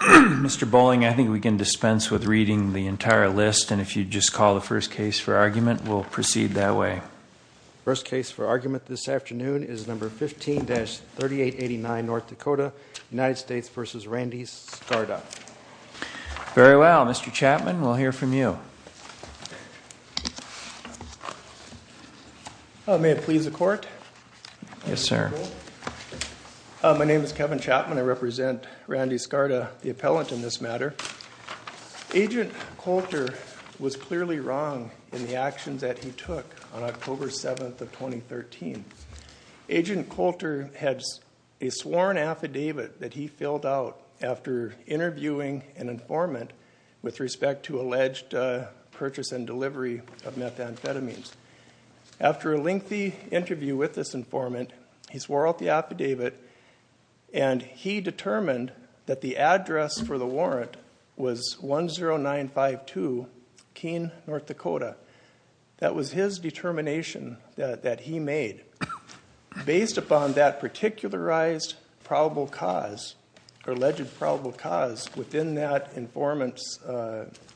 Mr. Bolling I think we can dispense with reading the entire list and if you just call the first case for argument we'll proceed that way. First case for argument this afternoon is number 15-3889 North Dakota United States v. Randy Skarda. Very well Mr. Chapman we'll hear from you. May it please the court. Yes sir. My name is Kevin Chapman I represent Randy Skarda the appellant in this matter. Agent Coulter was clearly wrong in the actions that he took on October 7th of 2013. Agent Coulter has a sworn affidavit that he filled out after interviewing an informant with respect to alleged purchase and delivery of methamphetamines. After a lengthy interview with this informant he swore out the affidavit and he determined that the address for the warrant was 10952 Keene, North Dakota. That was his determination that he made. Based upon that particularized probable cause or alleged probable cause within that informant's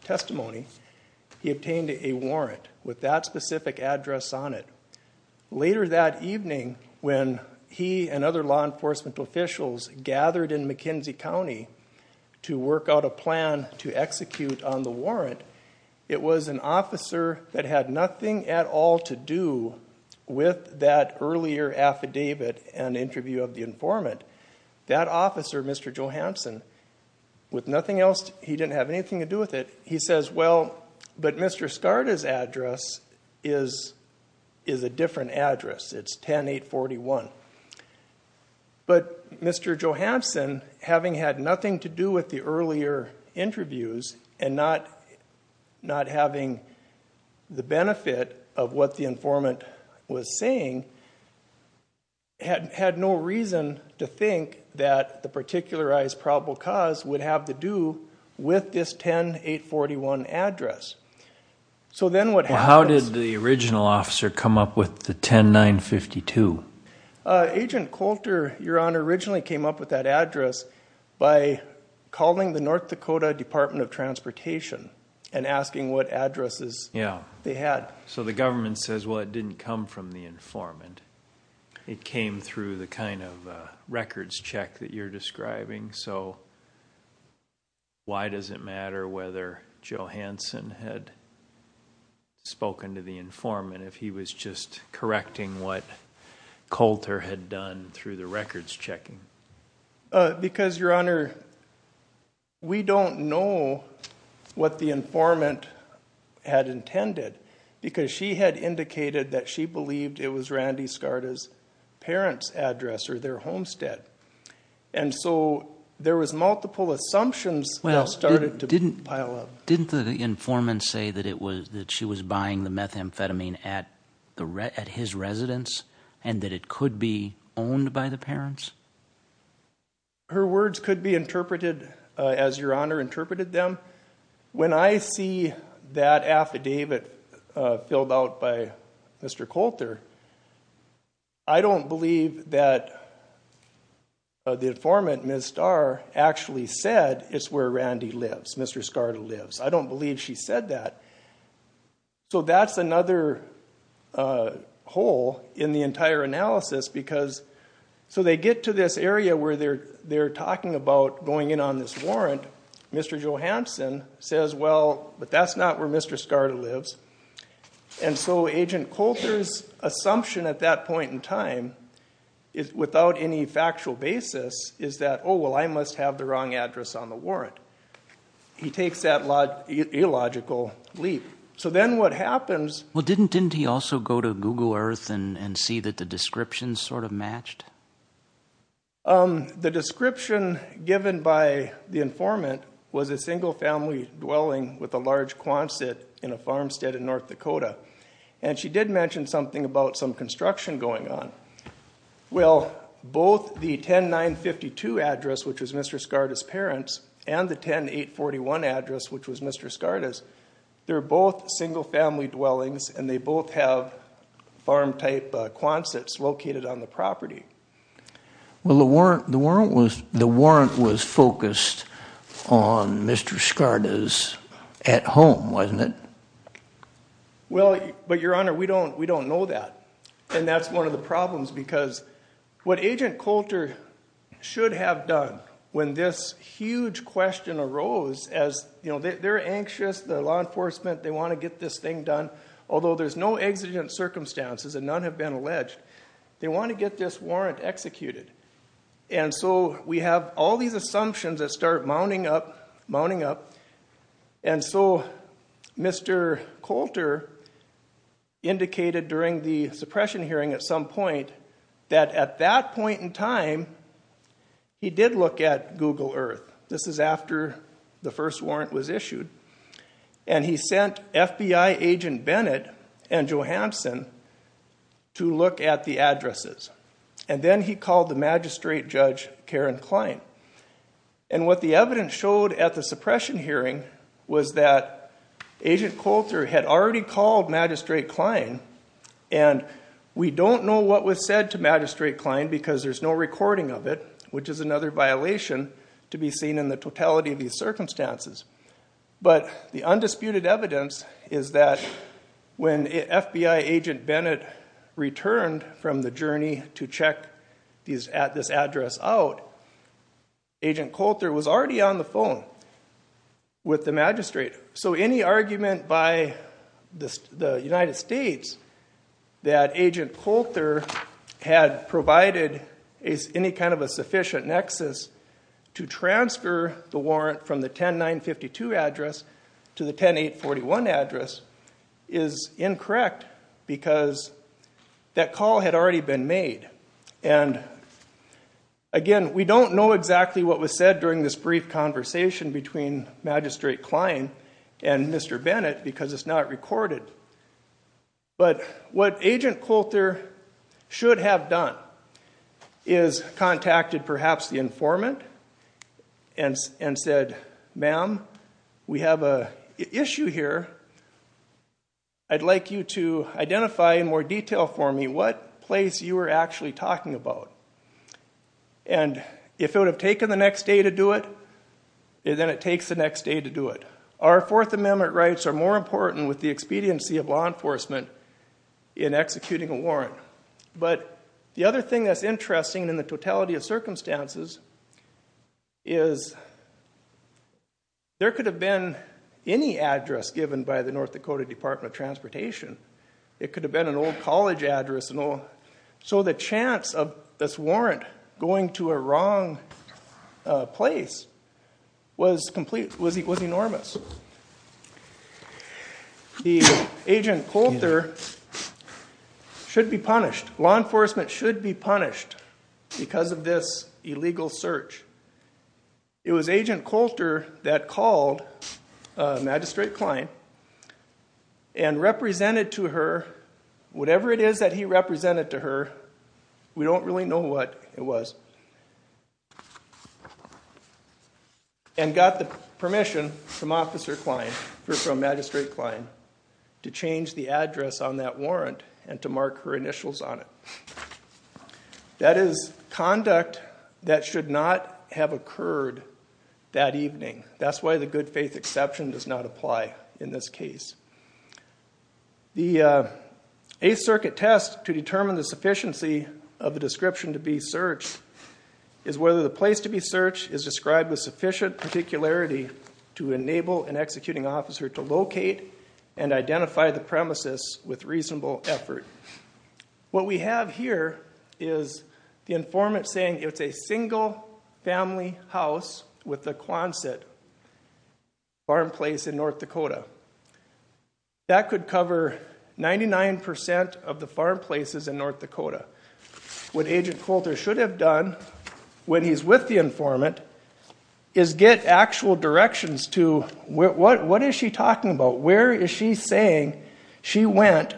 testimony he obtained a warrant with that specific address on it. Later that evening when he and other law enforcement officials gathered in McKenzie County to work out a plan to execute on the warrant it was an officer that had nothing at all to do with that earlier affidavit and interview of the informant. That officer Mr. Johansson with nothing else he didn't have anything to do with it he says well but Mr. Skarda's is a different address it's 10841. But Mr. Johansson having had nothing to do with the earlier interviews and not not having the benefit of what the informant was saying had had no reason to think that the particularized probable cause would have to do with this 10841 address. So then what how did the original officer come up with the 10952? Agent Coulter your honor originally came up with that address by calling the North Dakota Department of Transportation and asking what addresses yeah they had. So the government says well it didn't come from the informant it came through the kind of records check that you're describing so why does it matter whether Johansson had spoken to the informant if he was just correcting what Coulter had done through the records checking? Because your honor we don't know what the informant had intended because she had indicated that she believed it was Randy Skarda's address or their homestead. And so there was multiple assumptions well started to pile up. Didn't the informant say that it was that she was buying the methamphetamine at his residence and that it could be owned by the parents? Her words could be interpreted as your honor interpreted them. When I see that affidavit filled out by Mr. Coulter I don't believe that the informant Ms. Starr actually said it's where Randy lives, Mr. Skarda lives. I don't believe she said that. So that's another hole in the entire analysis because so they get to this area where they're they're talking about going in on this warrant. Mr. Johansson says well but that's not where Mr. Skarda lives. And so agent Coulter's assumption at that point in time is without any factual basis is that oh well I must have the wrong address on the warrant. He takes that illogical leap. So then what happens... Well didn't didn't he also go to Google Earth and see that the descriptions sort of matched? The description given by the informant was a single-family dwelling with a large quonset in a farmstead in North Dakota. And she did mention something about some construction going on. Well both the 10952 address which was Mr. Skarda's parents and the 10841 address which was Mr. Skarda's, they're both single-family dwellings and they both have farm type quonsets located on the property. Well the warrant was the warrant was focused on Mr. Skarda's at home wasn't it? Well but your honor we don't we don't know that. And that's one of the problems because what agent Coulter should have done when this huge question arose as you know they're anxious the law enforcement they want to get this thing done although there's no exigent circumstances and none have been alleged. They want to get this warrant executed. And so we have all these assumptions that start mounting up mounting up and so Mr. Coulter indicated during the suppression hearing at some point that at that point in time he did look at Google Earth. This is after the first warrant was issued and he sent FBI agent Bennett and then he called the magistrate judge Karen Klein. And what the evidence showed at the suppression hearing was that agent Coulter had already called magistrate Klein and we don't know what was said to magistrate Klein because there's no recording of it which is another violation to be seen in the totality of these circumstances. But the undisputed evidence is that when FBI agent Bennett returned from the journey to check these at this address out, agent Coulter was already on the phone with the magistrate. So any argument by this the United States that agent Coulter had provided is any kind of a sufficient nexus to transfer the warrant from the 10-952 address to the 10-841 address is incorrect because that call had already been made and again we don't know exactly what was said during this brief conversation between magistrate Klein and Mr. Bennett because it's not recorded. But what agent Coulter should have done is contacted perhaps the informant and said ma'am we have a issue here. I'd like you to identify in more detail for me what place you were actually talking about. And if it would have taken the next day to do it, then it takes the next day to do it. Our Fourth Amendment rights are more important with the expediency of law enforcement in executing a warrant. But the other thing that's interesting in the totality of circumstances is there could have been any address given by the North Dakota Department of Transportation. It could have been an old college address. So the chance of this warrant going to a wrong place was enormous. The agent Coulter should be punished. Law enforcement should be punished because of this illegal search. It was agent Coulter that called Magistrate Klein and represented to her whatever it is that he represented to her, we don't really know what it was, and got the permission from Magistrate Klein to change the address on that warrant and to mark her initials on it. That is conduct that should not have occurred that evening. That's why the good faith exception does not apply in this case. The Eighth Circuit test to determine the sufficiency of the description to be searched is whether the place to be searched is described with sufficient particularity to enable an executing officer to locate and identify the premises with reasonable effort. What we have here is the family house with the Quonset farm place in North Dakota. That could cover 99% of the farm places in North Dakota. What agent Coulter should have done when he's with the informant is get actual directions to what is she talking about, where is she saying she went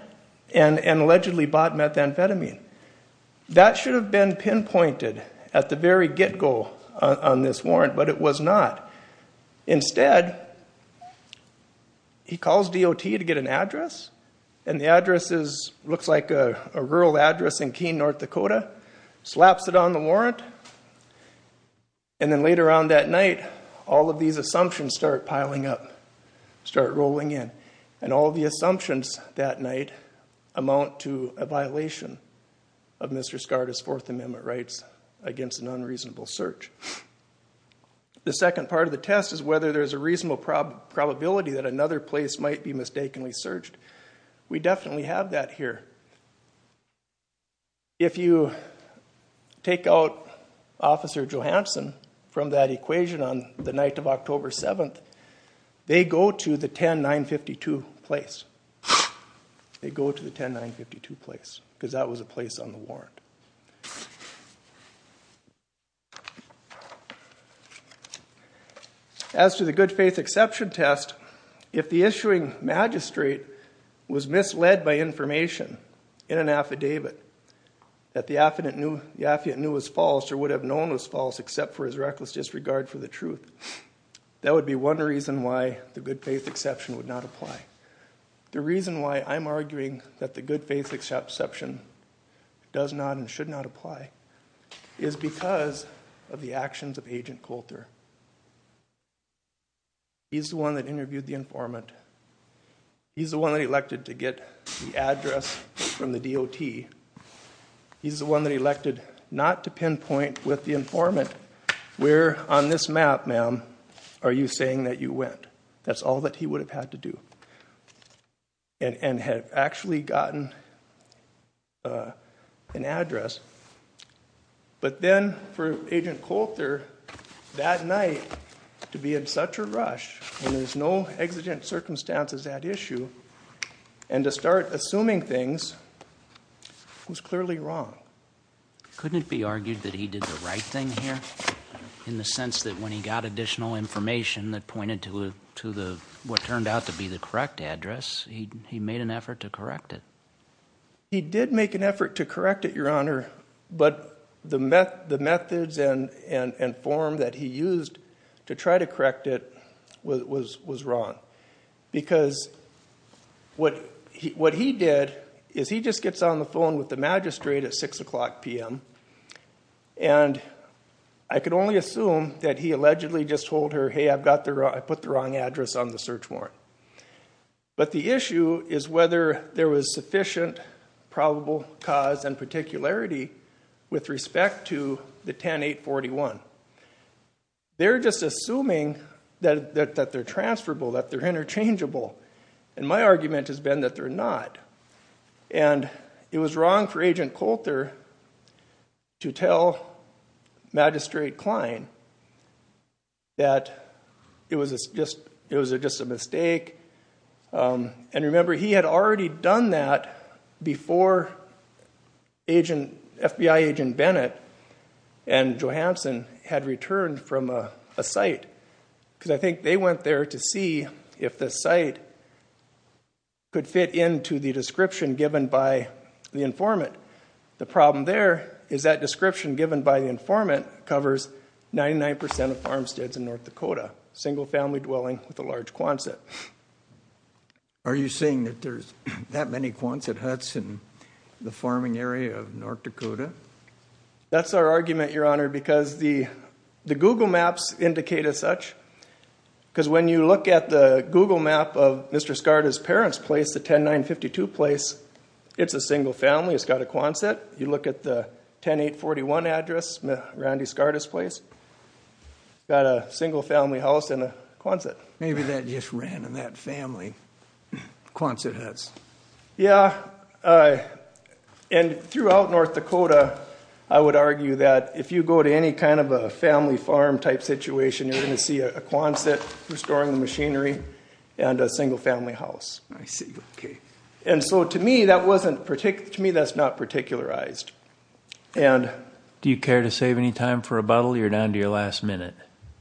and allegedly bought methamphetamine. That should have been pinpointed at the very get-go on this warrant, but it was not. Instead, he calls DOT to get an address, and the address looks like a rural address in Keene, North Dakota, slaps it on the warrant, and then later on that night, all of these assumptions start piling up, start rolling in, and all the Fourth Amendment rights against an unreasonable search. The second part of the test is whether there's a reasonable probability that another place might be mistakenly searched. We definitely have that here. If you take out Officer Johansson from that equation on the night of October 7th, they go to the 10952 place. They go to the 10952 place because that was a place on the list. As to the good-faith exception test, if the issuing magistrate was misled by information in an affidavit that the affidavit knew was false or would have known was false except for his reckless disregard for the truth, that would be one reason why the good-faith exception would not apply. The reason why I'm arguing that the good-faith exception does not and apply is because of the actions of Agent Coulter. He's the one that interviewed the informant. He's the one that elected to get the address from the DOT. He's the one that elected not to pinpoint with the informant, where on this map, ma'am, are you saying that you went? That's all that he would have had to do and had actually gotten an address. But then for Agent Coulter, that night, to be in such a rush when there's no exigent circumstances at issue and to start assuming things was clearly wrong. Couldn't it be argued that he did the right thing here in the sense that when he got additional information that pointed to the what turned out to be the correct address, he made an effort to correct it? He did make an effort to correct it, Your Honor, but the methods and form that he used to try to correct it was wrong. Because what he did is he just gets on the phone with the magistrate at 6 o'clock p.m. and I could only assume that he allegedly just told her, hey, I've But the issue is whether there was sufficient probable cause and particularity with respect to the 10-841. They're just assuming that they're transferable, that they're interchangeable, and my argument has been that they're not. And it was wrong for Agent Coulter to tell Magistrate Cline that it was just a mistake. And remember, he had already done that before FBI Agent Bennett and Johansson had returned from a site. Because I think they went there to see if the site could fit into the description given by the informant. The problem there is that description given by the informant covers 99% of farmsteads in North Dakota. Single-family dwelling with a large Quonset. Are you saying that there's that many Quonset huts in the farming area of North Dakota? That's our argument, Your Honor, because the the Google Maps indicate as such. Because when you look at the Google Map of Mr. Skarda's parents' place, the 10952 place, it's a single family. It's got a address, Randy Skarda's place. Got a single-family house and a Quonset. Maybe that just ran in that family Quonset huts. Yeah, and throughout North Dakota, I would argue that if you go to any kind of a family farm type situation, you're going to see a Quonset restoring the machinery and a single-family house. I see, okay. And so to me that wasn't particular, to me that's not particularized. And do you care to save any time for a rebuttal? You're down to your last minute.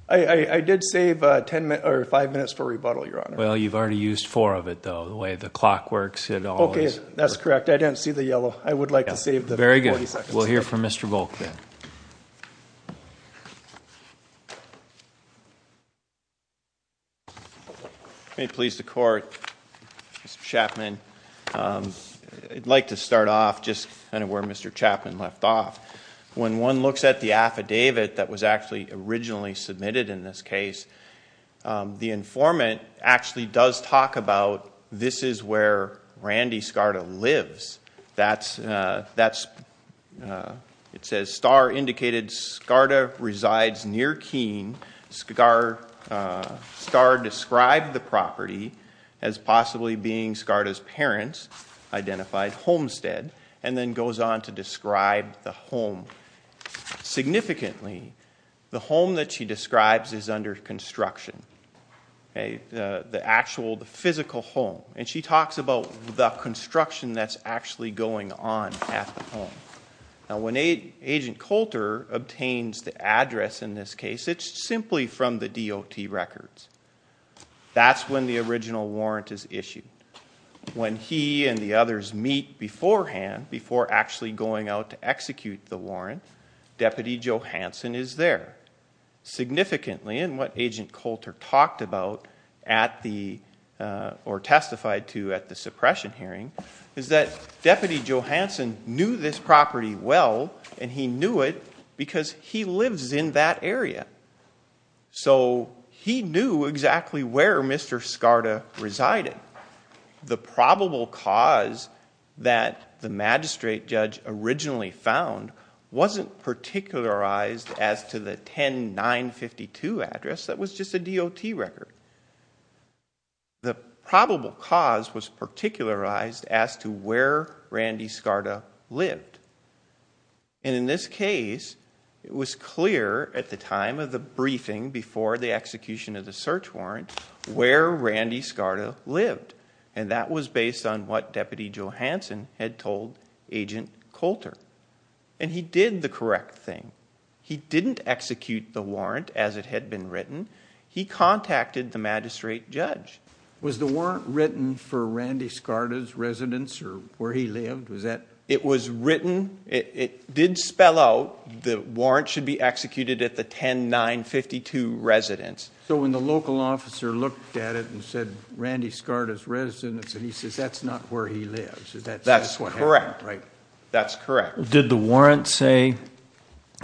I did save ten or five minutes for rebuttal, Your Honor. Well, you've already used four of it though, the way the clock works. Okay, that's correct. I didn't see the yellow. I would like to save the 40 seconds. Very good. We'll hear from Mr. Volk then. May it please the court, Mr. Chapman. I'd like to start off just kind of where Mr. Chapman left off. When one looks at the affidavit that was actually originally submitted in this case, the informant actually does talk about this is where Randy Skarda lives. That's, that's, it says star indicated Skarda resides near Keene. Skarda described the property as possibly being Skarda's parents identified homestead and then goes on to describe the home. Significantly, the home that she describes is under construction. The actual, the physical home. And she talks about the construction that's actually going on at the home. Now when Agent Coulter obtains the address in this case, it's simply from the DOT records. That's when the original warrant is issued. When he and the others meet beforehand, before actually going out to execute the warrant, Deputy Johanson is there. Significantly, and what Agent Coulter talked about at the, or testified to at the suppression hearing, is that Deputy Johanson knew this property well and he knew it because he lives in that area. So he knew exactly where Mr. Skarda resided. The probable cause that the magistrate judge originally found wasn't particularized as to the 10952 address that was just a DOT record. The probable cause was particularized as to where Randy Skarda lived. And in this case, it was clear at the time of the briefing before the execution of the search warrant, where Randy Skarda lived. And that was based on what Deputy Johanson had told Agent Coulter. And he did the correct thing. He didn't execute the warrant as it had been written. He contacted the magistrate judge. Was the warrant written for Randy Skarda's residence or where he lived? Was that? It was written. It did spell out the warrant should be executed at the 10952 residence. So when the local officer looked at it and said Randy Skarda's residence, and he says that's not where he lives. That's what happened, right? That's correct. Did the warrant say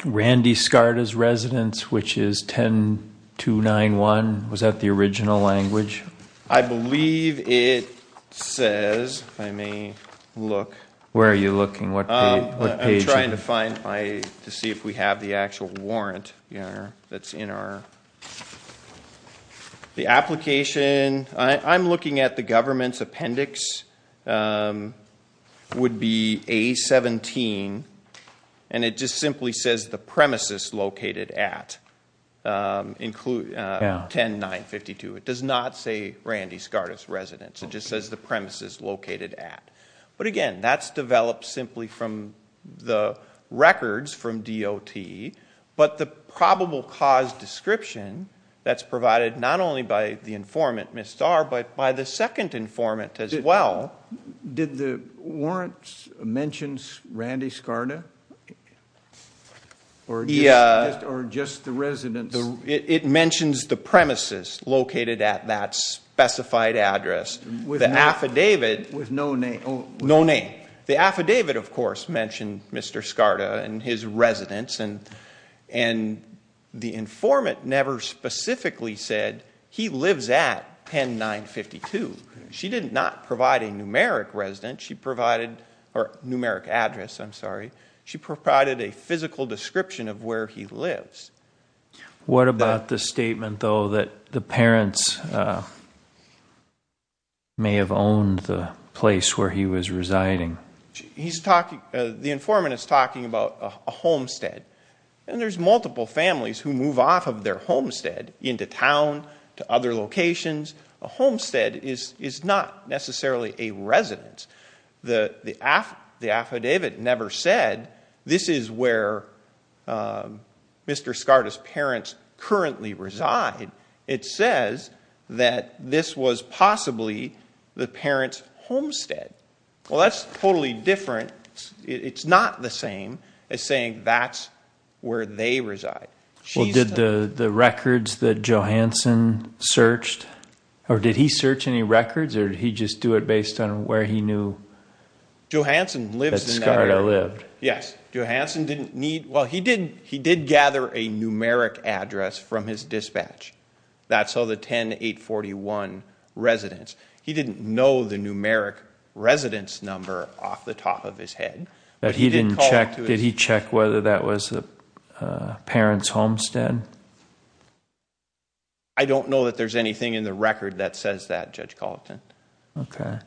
Randy Skarda's residence, which is 10291? Was that the original language? I believe it says, I may look. Where are you looking? What page? I'm trying to find, to see if we have the actual warrant that's in our, the application. I'm looking at the government's appendix. Would be A17, and it just simply says the premises located at 10952. It does not say Randy Skarda's residence. It just says the premises located at. But again, that's developed simply from the records from DOT, but the probable cause description that's provided not only by the informant, Ms. Starr, but by the second informant as well. Did the warrants mentions Randy Skarda? Yeah. Or just the residence? It mentions the premises located at that specified address. With the affidavit. With no name? No name. The affidavit of course mentioned Mr. Skarda and his residence, and the informant never specifically said he lives at 10952. She did not provide a numeric residence. She provided, or numeric address, I'm sorry. She provided a physical description of where he lives. What about the statement though that the parents may have owned the place where he was residing? He's talking, the informant is talking about a homestead, and there's multiple families who move off of their homestead into town, to a homestead is not necessarily a residence. The affidavit never said this is where Mr. Skarda's parents currently reside. It says that this was possibly the parents homestead. Well that's totally different. It's not the same as saying that's where they reside. Well did the records that Johansson searched, or did he search any records, or did he just do it based on where he knew Johansson lived? That Skarda lived. Yes, Johansson didn't need, well he didn't, he did gather a numeric address from his dispatch. That's all the 10841 residents. He didn't know the numeric residence number off the top of his head. But he didn't check, did he check whether that was the parents homestead? I don't know that there's anything in the record that says that, Judge Colleton. Okay,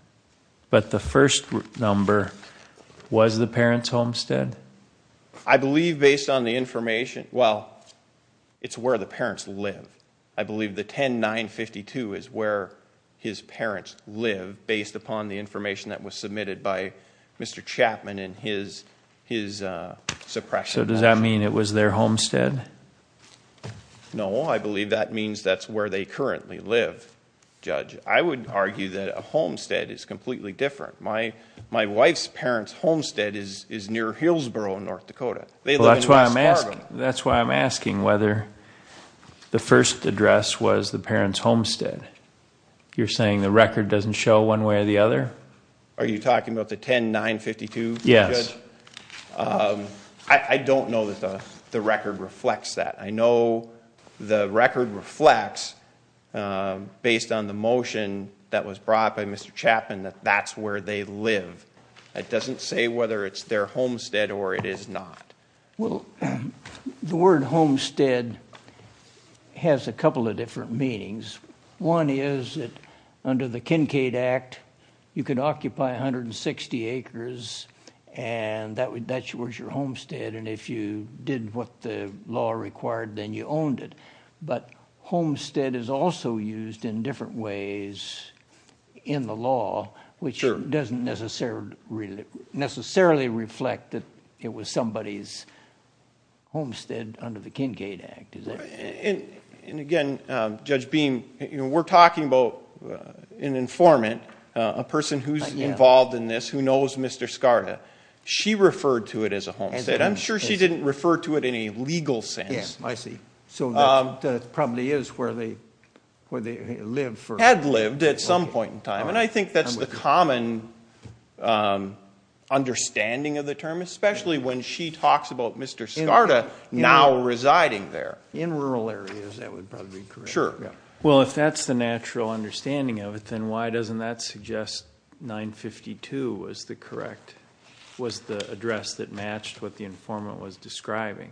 but the first number was the parents homestead? I believe based on the information, well it's where the parents live. I believe the 10952 is where his parents live based upon the information that was submitted by Mr. Chapman and his suppression. So does that mean it was their homestead? No, I believe that means that's where they currently live, Judge. I would argue that a homestead is completely different. My wife's parents homestead is near Hillsborough, North Dakota. That's why I'm asking whether the first address was the one way or the other. Are you talking about the 10952? Yes. I don't know that the record reflects that. I know the record reflects, based on the motion that was brought by Mr. Chapman, that that's where they live. It doesn't say whether it's their homestead or it is not. Well, the word homestead has a couple of different meanings. One is that under the Kincaid Act, you could occupy 160 acres and that was your homestead, and if you did what the law required, then you owned it. But homestead is also used in different ways in the law, which doesn't necessarily reflect that it was somebody's homestead under the Kincaid Act. We're talking about an informant, a person who's involved in this who knows Mr. Skarda. She referred to it as a homestead. I'm sure she didn't refer to it in a legal sense. Yes, I see. So that probably is where they lived. Had lived at some point in time, and I think that's the common understanding of the term, especially when she talks about Mr. Skarda now residing there. In rural areas, that would probably be correct. Sure. Well, if that's the natural understanding of it, then why doesn't that suggest 952 was the correct, was the address that matched what the informant was describing?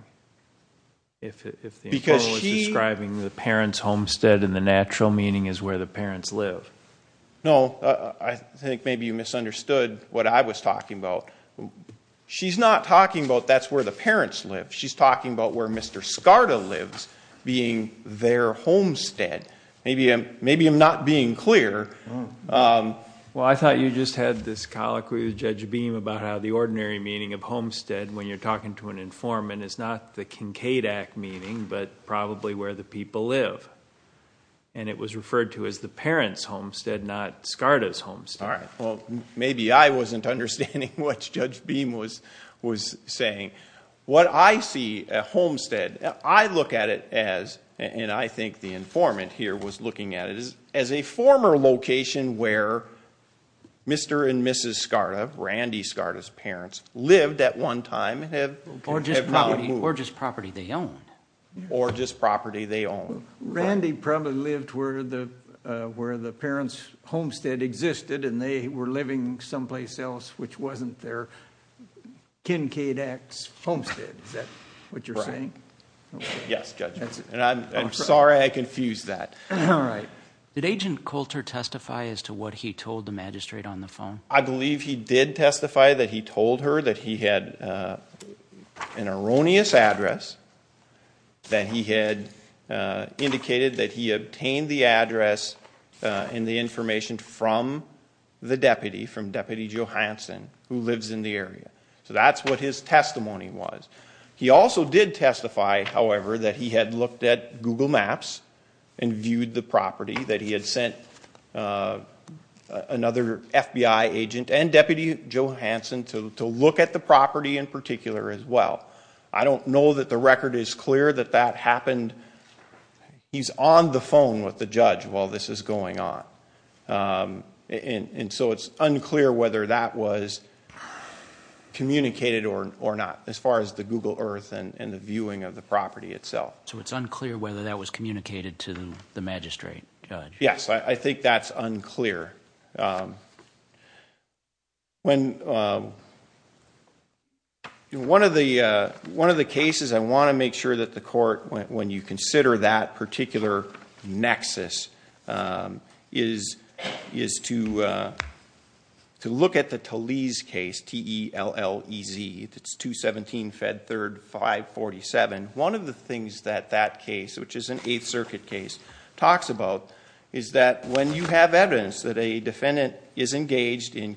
If the informant was describing the parent's homestead and the natural meaning is where the parents live. No, I think maybe you misunderstood what I was talking about. She's not talking about that's where the parents live. She's talking about where Mr. Skarda lives, being their homestead. Maybe I'm not being clear. Well, I thought you just had this colloquy with Judge Beam about how the ordinary meaning of homestead when you're talking to an informant is not the Kincaid Act meaning, but probably where the people live. It was referred to as the parent's homestead, not Skarda's homestead. All right. Well, maybe I wasn't understanding what Judge Beam was saying. What I see, a homestead, I look at it as, and I think the informant here was looking at it, as a former location where Mr. and Mrs. Skarda, Randy Skarda's parents, lived at one time and have now moved. Or just property they own. Or just property they own. Randy probably lived where the parents' homestead existed and they were living someplace else which wasn't their Kincaid Act homestead. Is that what you're saying? Yes, Judge. And I'm sorry I confused that. All right. Did Agent Coulter testify as to what he told the magistrate on the phone? I believe he did testify that he told her that he had an erroneous address, that he had indicated that he obtained the address and the information from the deputy, from Deputy Johansson, who lives in the area. So that's what his testimony was. He also did testify, however, that he had looked at Google Maps and viewed the property, that he had sent another FBI agent and Deputy Johansson to look at the property in particular as well. I don't know that the record is clear that that happened. He's on the phone with the judge while this is going on. And so it's unclear whether that was communicated or not as far as the Google Earth and the viewing of the property itself. So it's unclear whether that was communicated to the magistrate, Judge? Yes, I think that's unclear. One of the cases I want to make sure that the court, when you consider that particular nexus, is to look at the Talese case, T-E-L-L-E-Z. It's 217 Fed 3rd 547. One of the things that that case, which is an Eighth Circuit case, talks about is that when you have evidence that a defendant is engaged in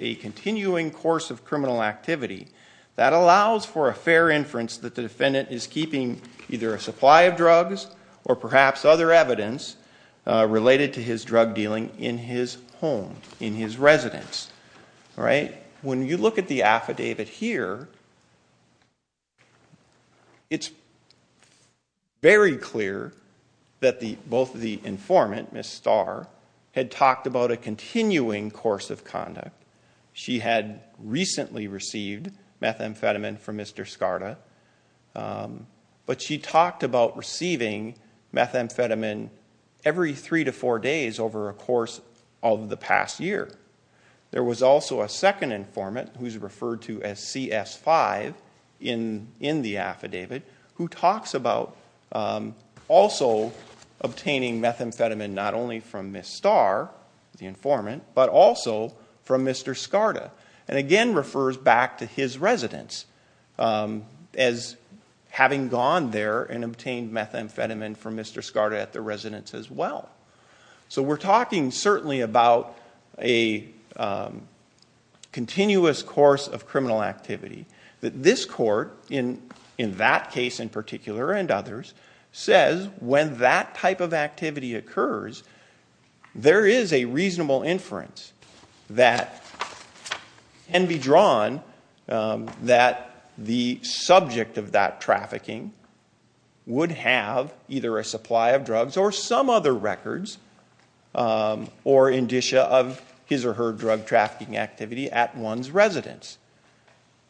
a continuing course of criminal activity, that allows for a supply of drugs or perhaps other evidence related to his drug dealing in his home, in his residence. When you look at the affidavit here, it's very clear that both the informant, Ms. Starr, had talked about a continuing course of conduct. She had recently received methamphetamine from Mr. Skarda, but she talked about receiving methamphetamine every three to four days over a course of the past year. There was also a second informant, who's referred to as CS-5 in the affidavit, who talks about also obtaining methamphetamine not only from Ms. Starr, the informant, but also from Mr. Skarda. And again, refers back to his residence as having gone there and obtained methamphetamine from Mr. Skarda at the residence as well. So we're talking certainly about a continuous course of criminal activity. This court, in that case in particular and others, says when that type of activity occurs, there is a reasonable inference that can be drawn that the subject of that trafficking would have either a supply of drugs or some other records or indicia of his or her drug trafficking activity at one's residence.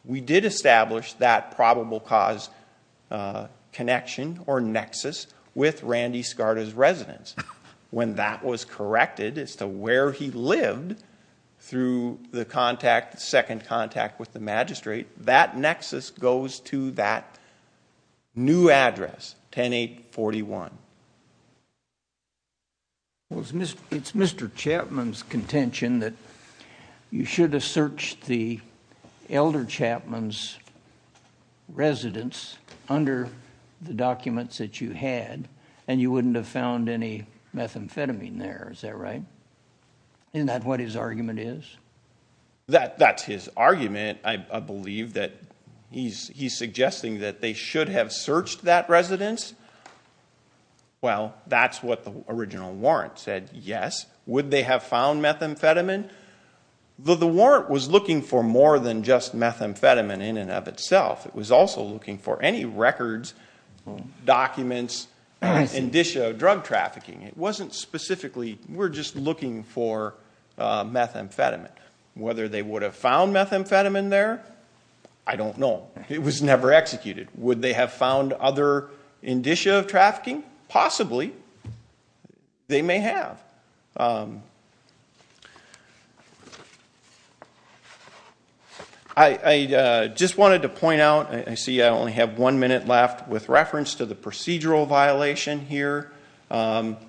We did establish that probable cause connection or nexus with Randy Skarda's residence. When that was corrected as to where he lived through the contact, the second contact with the magistrate, that nexus goes to that new address, 10-841. It's Mr. Chapman's contention that you should have searched the elder Chapman's residence under the documents that you had and you wouldn't have found any methamphetamine there, is that right? Isn't that what his argument is? That's his argument. I believe that he's suggesting that they should have searched that residence. Well, that's what the original warrant said, yes. Would they have found methamphetamine? The warrant was looking for more than just methamphetamine in and of itself. It was also looking for any records, documents, indicia of drug trafficking. It wasn't specifically, we're just looking for methamphetamine. Whether they would have found methamphetamine there, I don't know. It was never executed. Would they have found other indicia of trafficking? Possibly, they may have. I just wanted to point out, I see I only have one minute left with reference to the procedural violation here. I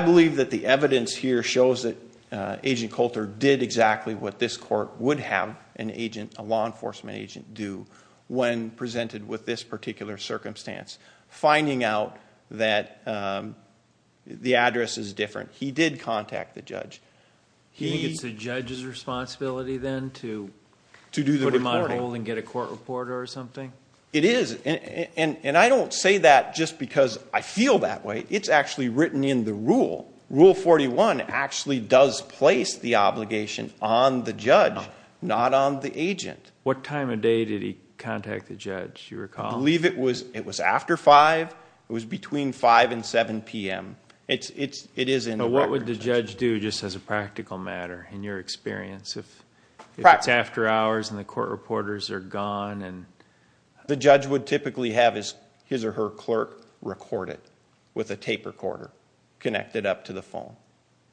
believe that the evidence here shows that Agent Coulter did exactly what this court would have an agent, a law enforcement agent, do when presented with this particular circumstance. Finding out that the address is different. He did contact the judge. It's the judge's responsibility then to put him on hold and get a record. I don't say that just because I feel that way. It's actually written in the rule. Rule 41 actually does place the obligation on the judge, not on the agent. What time of day did he contact the judge, do you recall? I believe it was after 5. It was between 5 and 7 p.m. It is in the record. What would the judge do just as a practical matter, in your experience? If it's after hours and the judge would typically have his or her clerk record it with a tape recorder connected up to the phone,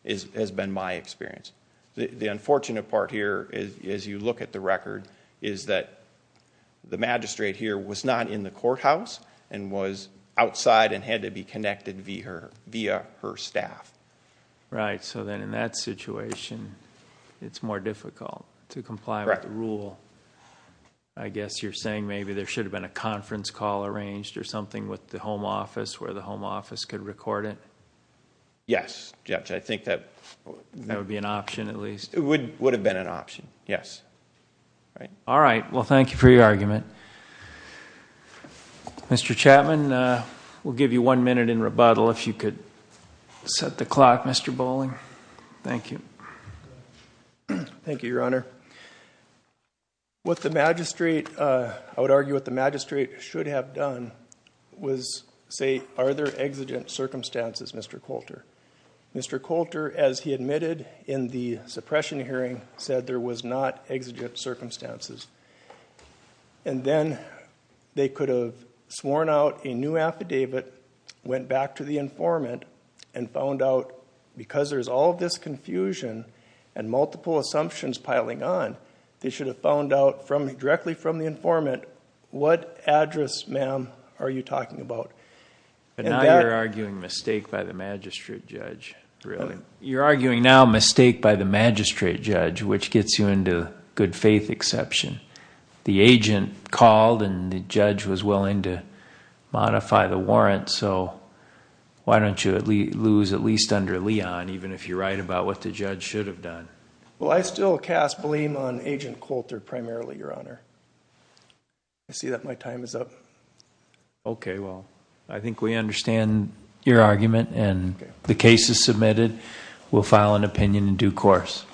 has been my experience. The unfortunate part here is, as you look at the record, is that the magistrate here was not in the courthouse and was outside and had to be connected via her staff. Right, so then in that situation it's more difficult to comply with the rule. I guess you're saying maybe there should have been a conference call arranged or something with the home office where the home office could record it? Yes, judge. I think that would be an option at least. It would have been an option, yes. All right, well thank you for your argument. Mr. Chapman, we'll give you one minute in rebuttal if you could set the clock. Mr. Bolling, thank you. Thank you, Your Honor. What the magistrate, I would argue what the magistrate should have done was say, are there exigent circumstances, Mr. Coulter? Mr. Coulter, as he admitted in the suppression hearing, said there was not exigent circumstances. And then they could have sworn out a new affidavit, went back to the informant and found out, because there's all this confusion and multiple assumptions piling on, they should have found out directly from the informant, what address, ma'am, are you talking about? But now you're arguing mistake by the magistrate judge, really? You're arguing now mistake by the magistrate judge, which gets you into good-faith exception. The agent called and the judge was at least under Leon, even if you're right about what the judge should have done. Well, I still cast blame on Agent Coulter primarily, Your Honor. I see that my time is up. Okay, well I think we understand your argument and the case is submitted. We'll file an opinion in due course.